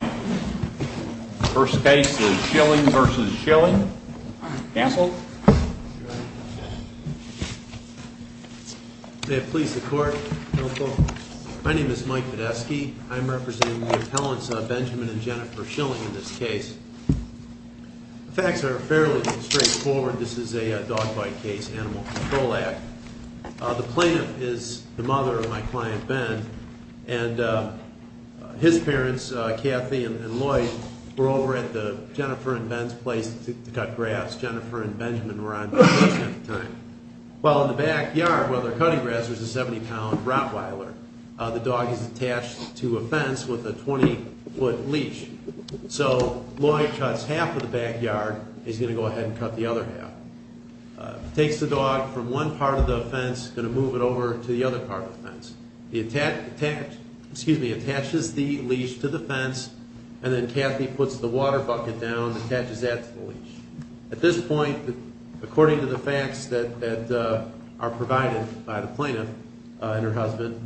The first case is Schilling v. Schilling. Counsel. May it please the court. Counsel. My name is Mike Podesky. I'm representing the appellants Benjamin and Jennifer Schilling in this case. The facts are fairly straightforward. This is a dog bite case, Animal Control Act. The plaintiff is the mother of my client, Ben. And his parents, Kathy and Lloyd, were over at the Jennifer and Ben's place to cut grass. Jennifer and Benjamin were on duty at the time. While in the backyard, where they're cutting grass, there's a 70-pound Rottweiler. The dog is attached to a fence with a 20-foot leash. So Lloyd cuts half of the backyard. He's going to go ahead and cut the other half. Takes the dog from one part of the fence, going to move it over to the other part of the fence. He attaches the leash to the fence. And then Kathy puts the water bucket down and attaches that to the leash. At this point, according to the facts that are provided by the plaintiff and her husband,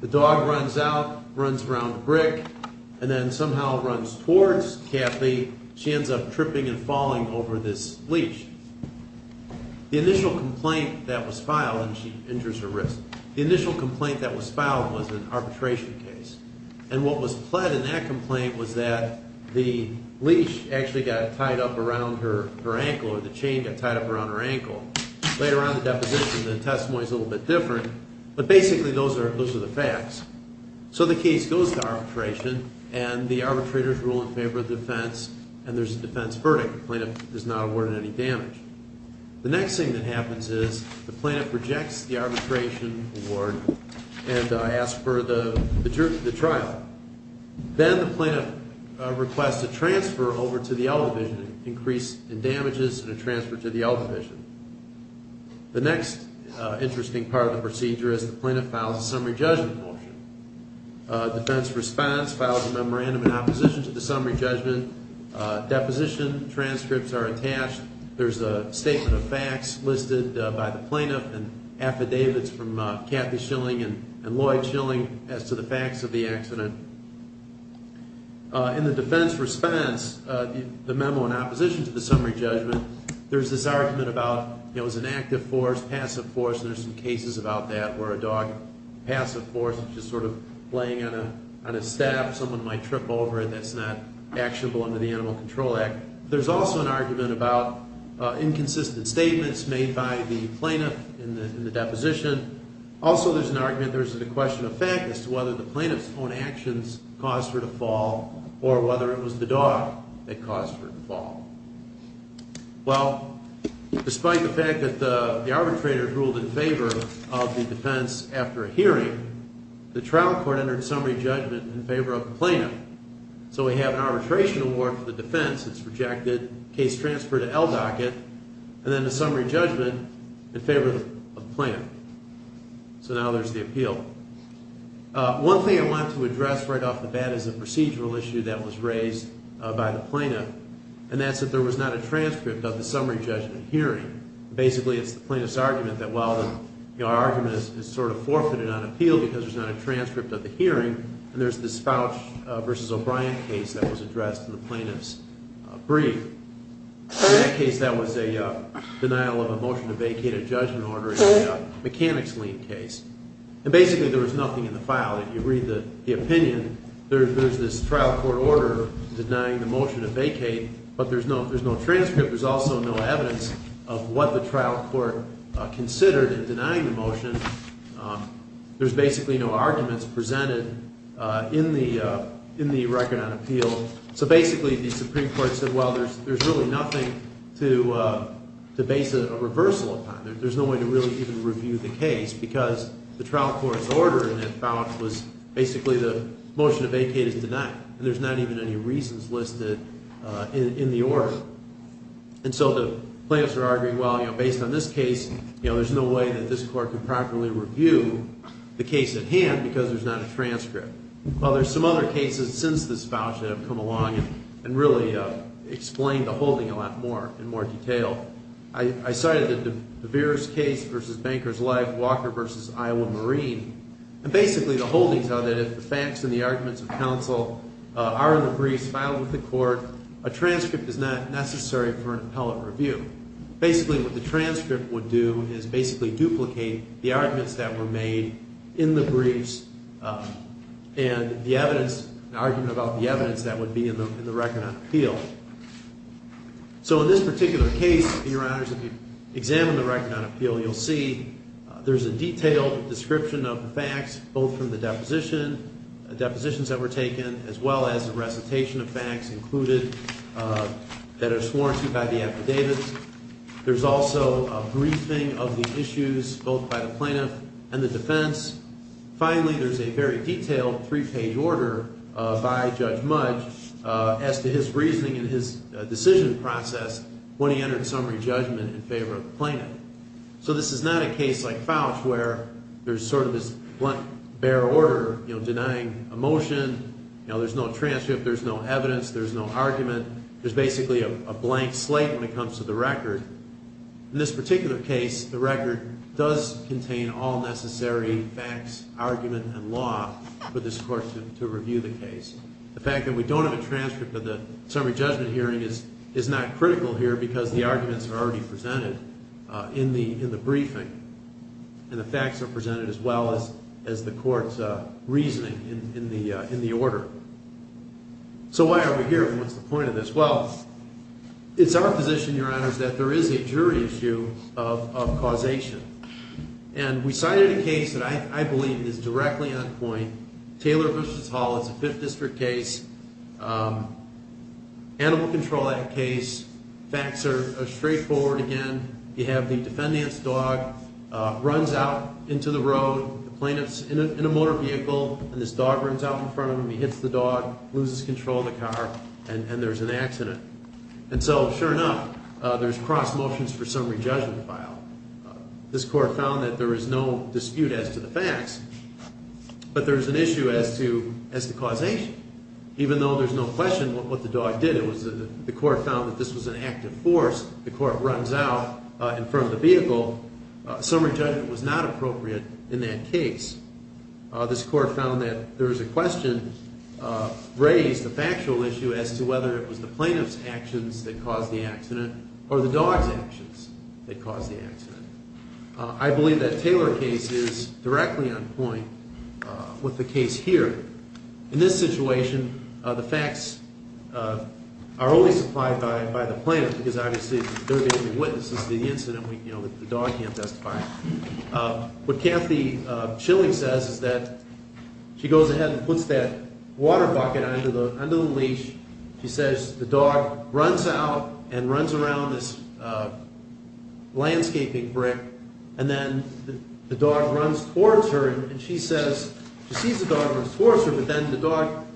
the dog runs out, runs around the brick, and then somehow runs towards Kathy. She ends up tripping and falling over this leash. The initial complaint that was filed, and she injures her wrist. The initial complaint that was filed was an arbitration case. And what was pled in that complaint was that the leash actually got tied up around her ankle or the chain got tied up around her ankle. Later on in the deposition, the testimony is a little bit different, but basically those are the facts. So the case goes to arbitration, and the arbitrators rule in favor of defense, and there's a defense verdict. The plaintiff is not awarded any damage. The next thing that happens is the plaintiff rejects the arbitration award and asks for the trial. Then the plaintiff requests a transfer over to the L Division, an increase in damages and a transfer to the L Division. The next interesting part of the procedure is the plaintiff files a summary judgment motion. Defense responds, files a memorandum in opposition to the summary judgment. Deposition transcripts are attached. There's a statement of facts listed by the plaintiff and affidavits from Kathy Schilling and Lloyd Schilling as to the facts of the accident. In the defense response, the memo in opposition to the summary judgment, there's this argument about it was an active force, passive force, and there's some cases about that where a dog, passive force, just sort of laying on a staff, someone might trip over it. That's not actionable under the Animal Control Act. There's also an argument about inconsistent statements made by the plaintiff in the deposition. Also, there's an argument, there's a question of fact as to whether the plaintiff's own actions caused her to fall or whether it was the dog that caused her to fall. Well, despite the fact that the arbitrators ruled in favor of the defense after a hearing, the trial court entered summary judgment in favor of the plaintiff. So we have an arbitration award for the defense. It's rejected, case transferred to LDOC it, and then the summary judgment in favor of the plaintiff. So now there's the appeal. One thing I want to address right off the bat is a procedural issue that was raised by the plaintiff, and that's that there was not a transcript of the summary judgment hearing. Basically, it's the plaintiff's argument that while the argument is sort of forfeited on appeal because there's not a transcript of the hearing, and there's this Fouch v. O'Brien case that was addressed in the plaintiff's brief. In that case, that was a denial of a motion to vacate a judgment order in a mechanics lien case. And basically, there was nothing in the file. If you read the opinion, there's this trial court order denying the motion to vacate, but there's no transcript. There's also no evidence of what the trial court considered in denying the motion. There's basically no arguments presented in the record on appeal. So basically, the Supreme Court said, well, there's really nothing to base a reversal upon. There's no way to really even review the case because the trial court's order in that Fouch was basically the motion to vacate is denied, and there's not even any reasons listed in the order. And so the plaintiffs are arguing, well, based on this case, there's no way that this court can properly review the case at hand because there's not a transcript. Well, there's some other cases since this Fouch that have come along and really explain the holding a lot more in more detail. I cited the DeVere's case v. Banker's Life, Walker v. Iowa Marine. And basically, the holdings are that if the facts and the arguments of counsel are in the briefs filed with the court, a transcript is not necessary for an appellate review. Basically, what the transcript would do is basically duplicate the arguments that were made in the briefs and the evidence, an argument about the evidence that would be in the record on appeal. So in this particular case, Your Honors, if you examine the record on appeal, you'll see there's a detailed description of the facts both from the depositions that were taken as well as a recitation of facts included that are sworn to by the affidavits. There's also a briefing of the issues both by the plaintiff and the defense. Finally, there's a very detailed three-page order by Judge Mudge as to his reasoning and his decision process when he entered summary judgment in favor of the plaintiff. So this is not a case like Fauch where there's sort of this blunt, bare order, you know, denying a motion. You know, there's no transcript, there's no evidence, there's no argument. There's basically a blank slate when it comes to the record. In this particular case, the record does contain all necessary facts, argument, and law for this court to review the case. The fact that we don't have a transcript of the summary judgment hearing is not critical here because the arguments are already presented in the briefing. And the facts are presented as well as the court's reasoning in the order. So why are we here and what's the point of this? Well, it's our position, Your Honors, that there is a jury issue of causation. And we cited a case that I believe is directly on point. Taylor v. Hall is a 5th District case, Animal Control Act case. Facts are straightforward again. You have the defendant's dog runs out into the road. The plaintiff's in a motor vehicle and this dog runs out in front of him. He hits the dog, loses control of the car, and there's an accident. And so, sure enough, there's cross motions for summary judgment file. This court found that there is no dispute as to the facts. But there's an issue as to causation. Even though there's no question what the dog did. The court found that this was an act of force. The court runs out in front of the vehicle. Summary judgment was not appropriate in that case. This court found that there is a question raised, a factual issue, as to whether it was the plaintiff's actions that caused the accident or the dog's actions that caused the accident. I believe that Taylor case is directly on point with the case here. In this situation, the facts are only supplied by the plaintiff because, obviously, they're the only witnesses to the incident. The dog can't testify. What Kathy Chilling says is that she goes ahead and puts that water bucket under the leash. She says the dog runs out and runs around this landscaping brick, and then the dog runs towards her, and she says she sees the dog runs towards her, but then the dog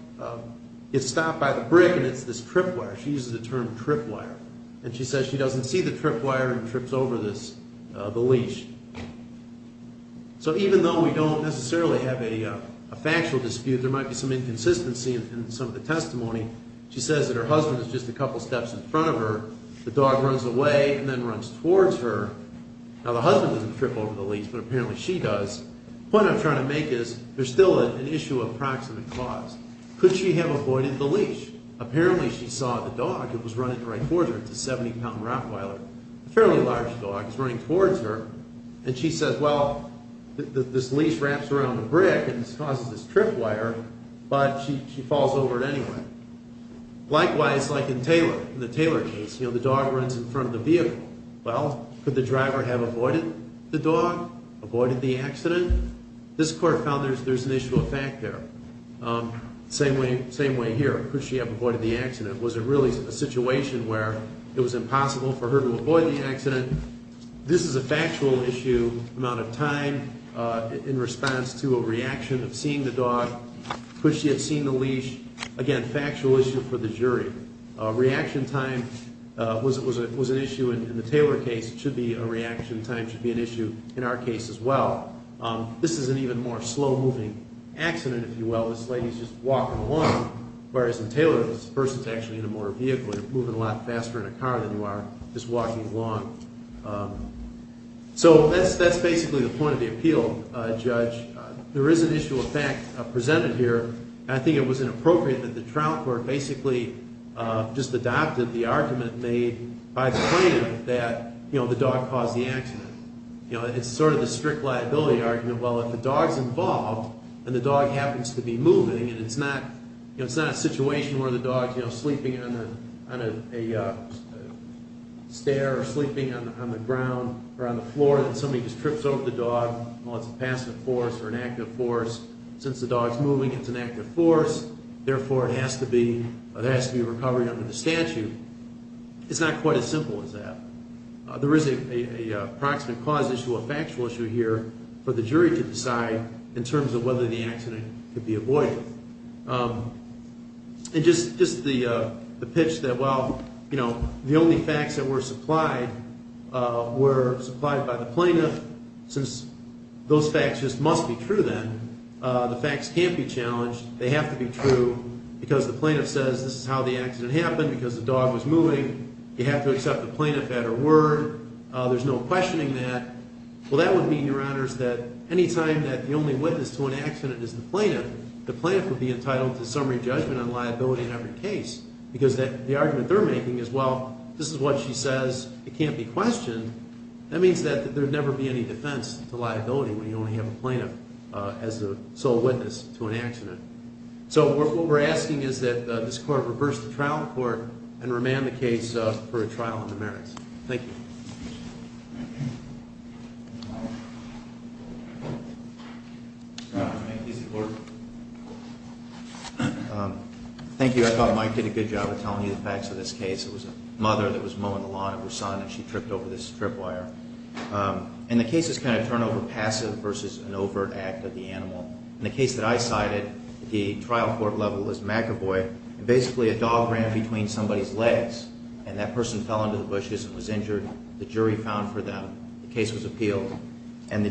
gets stopped by the brick, and it's this trip wire. She uses the term trip wire. And she says she doesn't see the trip wire and trips over the leash. So even though we don't necessarily have a factual dispute, there might be some inconsistency in some of the testimony. She says that her husband is just a couple steps in front of her. The dog runs away and then runs towards her. Now, the husband doesn't trip over the leash, but apparently she does. The point I'm trying to make is there's still an issue of proximate cause. Could she have avoided the leash? Apparently she saw the dog. It was running right towards her. It's a 70-pound Rottweiler, a fairly large dog. It's running towards her. And she says, well, this leash wraps around the brick and causes this trip wire, but she falls over it anyway. Likewise, like in the Taylor case, the dog runs in front of the vehicle. Well, could the driver have avoided the dog, avoided the accident? This court found there's an issue of fact there. Same way here. Could she have avoided the accident? This is a factual issue, amount of time in response to a reaction of seeing the dog. Could she have seen the leash? Again, factual issue for the jury. Reaction time was an issue in the Taylor case. It should be a reaction time should be an issue in our case as well. This is an even more slow-moving accident, if you will. This lady is just walking along, whereas in Taylor this person is actually in a motor vehicle and moving a lot faster in a car than you are just walking along. So that's basically the point of the appeal, Judge. There is an issue of fact presented here, and I think it was inappropriate that the trial court basically just adopted the argument made by the plaintiff that the dog caused the accident. It's sort of the strict liability argument. Well, if the dog's involved and the dog happens to be moving and it's not a situation where the dog's sleeping on a stair or sleeping on the ground or on the floor and somebody just trips over the dog, well, it's a passive force or an active force. Since the dog's moving, it's an active force. Therefore, it has to be recovered under the statute. It's not quite as simple as that. There is a proximate cause issue, a factual issue here, for the jury to decide in terms of whether the accident could be avoided. And just the pitch that, well, you know, the only facts that were supplied were supplied by the plaintiff. Since those facts just must be true then, the facts can't be challenged. They have to be true because the plaintiff says this is how the accident happened, because the dog was moving. You have to accept the plaintiff at her word. There's no questioning that. Well, that would mean, Your Honors, that any time that the only witness to an accident is the plaintiff, the plaintiff would be entitled to summary judgment on liability in every case because the argument they're making is, well, this is what she says. It can't be questioned. That means that there would never be any defense to liability when you only have a plaintiff as the sole witness to an accident. So what we're asking is that this Court reverse the trial in court and remand the case for a trial in the merits. Thank you. Thank you. I thought Mike did a good job of telling you the facts of this case. It was a mother that was mowing the lawn of her son, and she tripped over this strip wire. And the case is kind of turnover passive versus an overt act of the animal. In the case that I cited, the trial court level is macabre. Basically, a dog ran between somebody's legs, and that person fell into the bushes and was injured. The jury found for them. The case was appealed, and the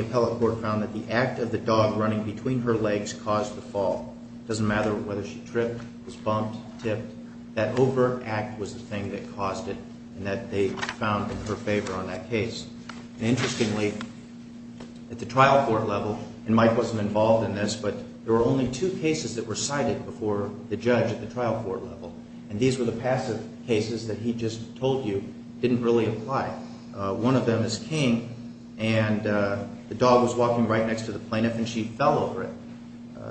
appellate court found that the act of the dog running between her legs caused the fall. It doesn't matter whether she tripped, was bumped, tipped. That overt act was the thing that caused it and that they found in her favor on that case. And interestingly, at the trial court level, and Mike wasn't involved in this, but there were only two cases that were cited before the judge at the trial court level, and these were the passive cases that he just told you didn't really apply. One of them is King, and the dog was walking right next to the plaintiff and she fell over it.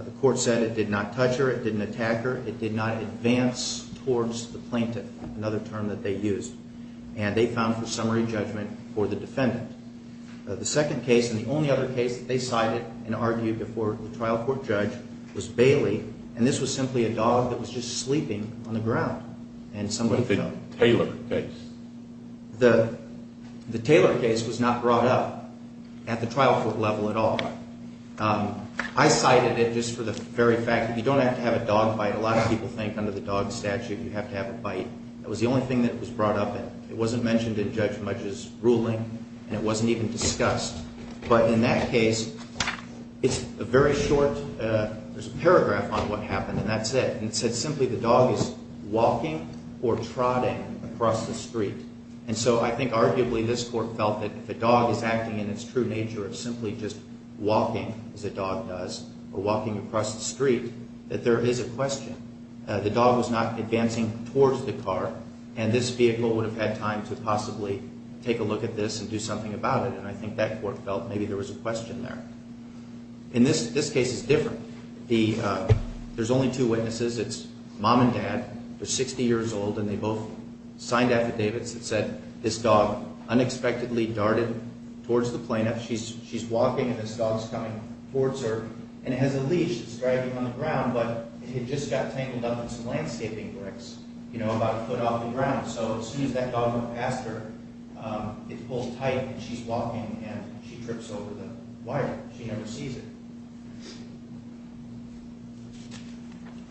The court said it did not touch her, it didn't attack her, it did not advance towards the plaintiff, another term that they used. And they found for summary judgment for the defendant. The second case and the only other case that they cited and argued before the trial court judge was Bailey, and this was simply a dog that was just sleeping on the ground. What about the Taylor case? The Taylor case was not brought up at the trial court level at all. I cited it just for the very fact that you don't have to have a dog bite. A lot of people think under the dog statute you have to have a bite. That was the only thing that was brought up. It wasn't mentioned in Judge Mudge's ruling and it wasn't even discussed. But in that case, it's a very short paragraph on what happened and that's it. It said simply the dog is walking or trotting across the street. And so I think arguably this court felt that if a dog is acting in its true nature of simply just walking as a dog does or walking across the street, that there is a question. The dog was not advancing towards the car and this vehicle would have had time to possibly take a look at this and do something about it. And I think that court felt maybe there was a question there. And this case is different. There's only two witnesses. It's mom and dad. They're 60 years old and they both signed affidavits that said this dog unexpectedly darted towards the plaintiff. She's walking and this dog's coming towards her. And it has a leash that's dragging on the ground, but it just got tangled up in some landscaping bricks about a foot off the ground. So as soon as that dog went past her, it pulls tight and she's walking and she trips over the wire. She never sees it.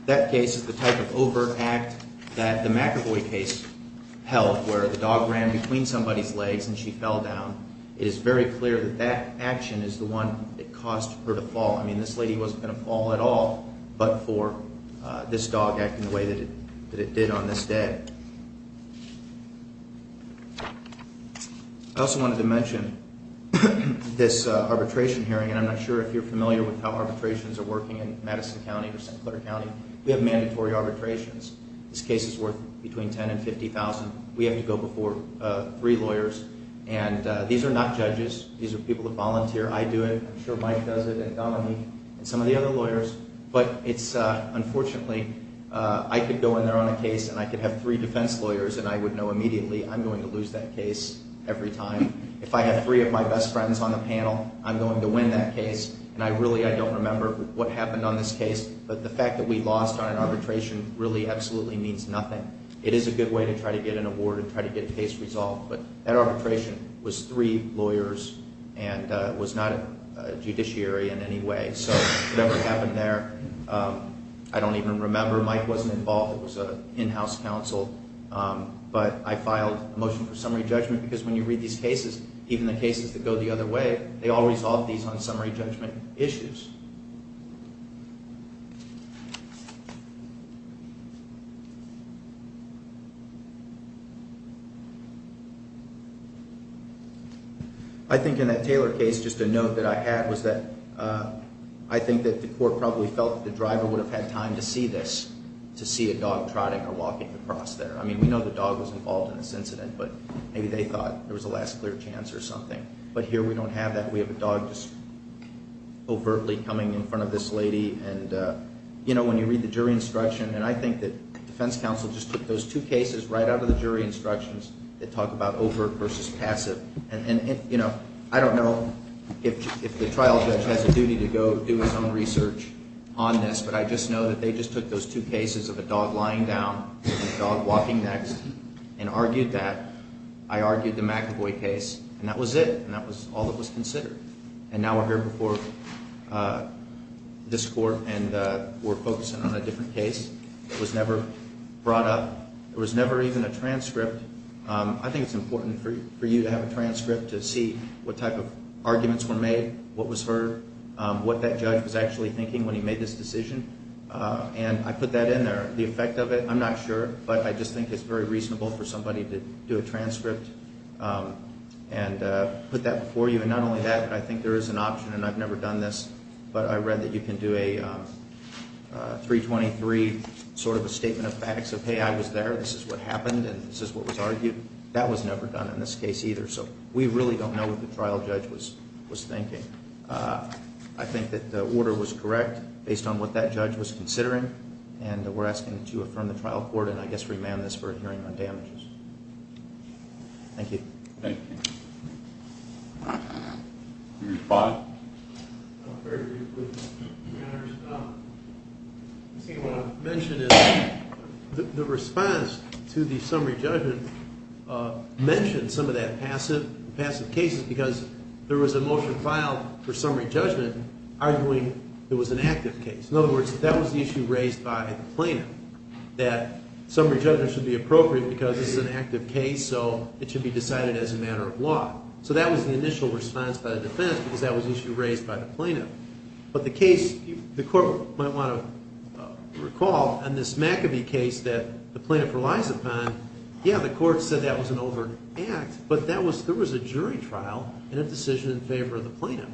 That case is the type of overt act that the McEvoy case held where the dog ran between somebody's legs and she fell down. It is very clear that that action is the one that caused her to fall. I mean this lady wasn't going to fall at all, but for this dog acting the way that it did on this day. I also wanted to mention this arbitration hearing, and I'm not sure if you're familiar with how arbitrations are working in Madison County or St. Clair County. We have mandatory arbitrations. This case is worth between $10,000 and $50,000. We have to go before three lawyers. And these are not judges. These are people that volunteer. I'm sure Mike does it and Dominique and some of the other lawyers. But unfortunately I could go in there on a case and I could have three defense lawyers and I would know immediately I'm going to lose that case every time. If I have three of my best friends on the panel, I'm going to win that case. And I really don't remember what happened on this case, but the fact that we lost on an arbitration really absolutely means nothing. It is a good way to try to get an award and try to get a case resolved, but that arbitration was three lawyers and was not a judiciary in any way. So whatever happened there, I don't even remember. Mike wasn't involved. It was an in-house counsel. But I filed a motion for summary judgment because when you read these cases, even the cases that go the other way, they all resolve these on summary judgment issues. I think in that Taylor case, just a note that I had was that I think that the court probably felt that the driver would have had time to see this, to see a dog trotting or walking across there. I mean, we know the dog was involved in this incident, but maybe they thought there was a last clear chance or something. But here we don't have that. We don't have that. We don't have that. And, you know, when you read the jury instruction, and I think that defense counsel just took those two cases right out of the jury instructions that talk about overt versus passive. And, you know, I don't know if the trial judge has a duty to go do his own research on this, but I just know that they just took those two cases of a dog lying down and a dog walking next and argued that. I argued the McAvoy case, and that was it, and that was all that was considered. And now we're here before this court and we're focusing on a different case. It was never brought up. There was never even a transcript. I think it's important for you to have a transcript to see what type of arguments were made, what was heard, what that judge was actually thinking when he made this decision. And I put that in there, the effect of it. I'm not sure, but I just think it's very reasonable for somebody to do a transcript and put that before you. Not only that, I think there is an option, and I've never done this, but I read that you can do a 323 sort of a statement of facts of, hey, I was there, this is what happened, and this is what was argued. That was never done in this case either. So we really don't know what the trial judge was thinking. I think that the order was correct based on what that judge was considering, and we're asking that you affirm the trial court, and I guess remand this for a hearing on damages. Thank you. Thank you. You respond? Very briefly. Your Honor, I think what I want to mention is the response to the summary judgment mentioned some of that passive cases because there was a motion filed for summary judgment arguing it was an active case. In other words, that was the issue raised by the plaintiff, that summary judgment should be appropriate because it's an active case, so it should be decided as a matter of law. So that was the initial response by the defense because that was the issue raised by the plaintiff. But the case, the court might want to recall, in this McAbee case that the plaintiff relies upon, yeah, the court said that was an overt act, but there was a jury trial and a decision in favor of the plaintiff.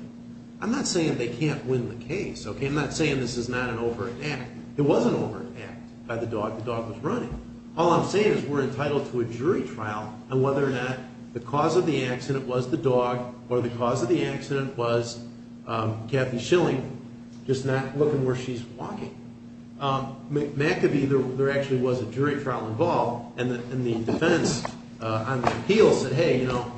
I'm not saying they can't win the case. I'm not saying this is not an overt act. It was an overt act by the dog. The dog was running. All I'm saying is we're entitled to a jury trial on whether or not the cause of the accident was the dog or the cause of the accident was Kathy Schilling, just not looking where she's walking. McAbee, there actually was a jury trial involved, and the defense on the appeal said, hey, you know,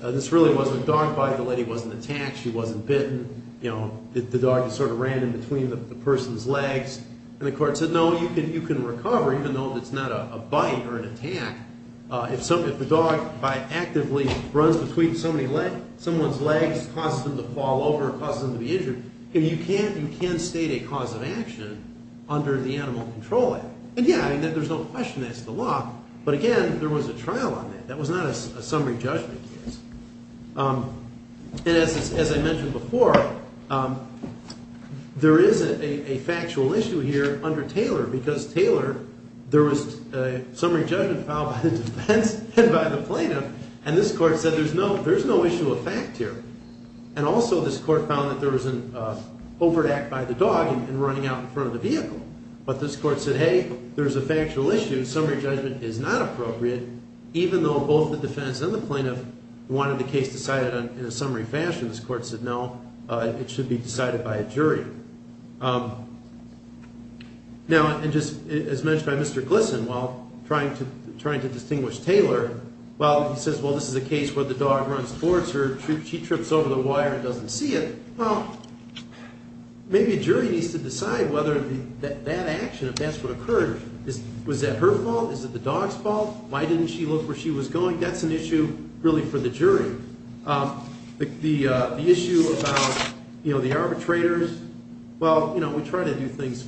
this really wasn't a dog bite. The lady wasn't attacked. She wasn't bitten. You know, the dog just sort of ran in between the person's legs. And the court said, no, you can recover, even though it's not a bite or an attack, if the dog actively runs between someone's legs, causes them to fall over, causes them to be injured. You can state a cause of action under the Animal Control Act. And, yeah, there's no question that's the law. But, again, there was a trial on that. That was not a summary judgment case. And as I mentioned before, there is a factual issue here under Taylor because Taylor, there was a summary judgment filed by the defense and by the plaintiff, and this court said there's no issue of fact here. And also this court found that there was an overact by the dog in running out in front of the vehicle. But this court said, hey, there's a factual issue. Summary judgment is not appropriate, even though both the defense and the plaintiff wanted the case decided in a summary fashion. This court said, no, it should be decided by a jury. Now, and just as mentioned by Mr. Glisson, while trying to distinguish Taylor, while he says, well, this is a case where the dog runs towards her, she trips over the wire and doesn't see it, well, maybe a jury needs to decide whether that action, if that's what occurred, was that her fault? Is it the dog's fault? Why didn't she look where she was going? That's an issue really for the jury. The issue about the arbitrators, well, we try to do things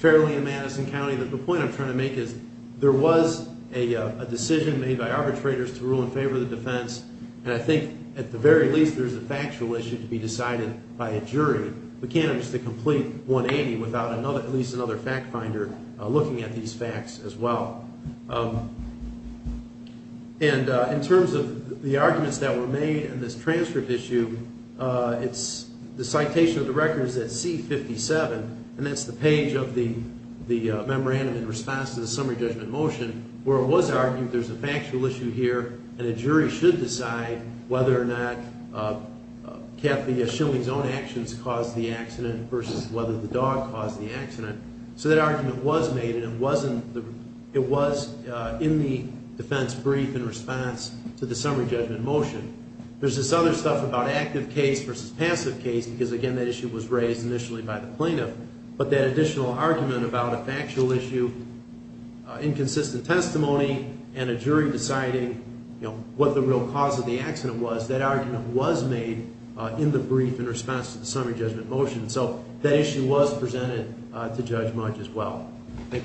fairly in Madison County, but the point I'm trying to make is there was a decision made by arbitrators to rule in favor of the defense, and I think at the very least there's a factual issue to be decided by a jury. We can't just complete 180 without at least another fact finder looking at these facts as well. And in terms of the arguments that were made in this transcript issue, the citation of the record is at C-57, and that's the page of the memorandum in response to the summary judgment motion, where it was argued there's a factual issue here and a jury should decide whether or not Kathy Schilling's own actions caused the accident versus whether the dog caused the accident. So that argument was made, and it was in the defense brief in response to the summary judgment motion. There's this other stuff about active case versus passive case because, again, that issue was raised initially by the plaintiff, but that additional argument about a factual issue, inconsistent testimony, and a jury deciding what the real cause of the accident was, that argument was made in the brief in response to the summary judgment motion. So that issue was presented to Judge Mudge as well. Thank you very much.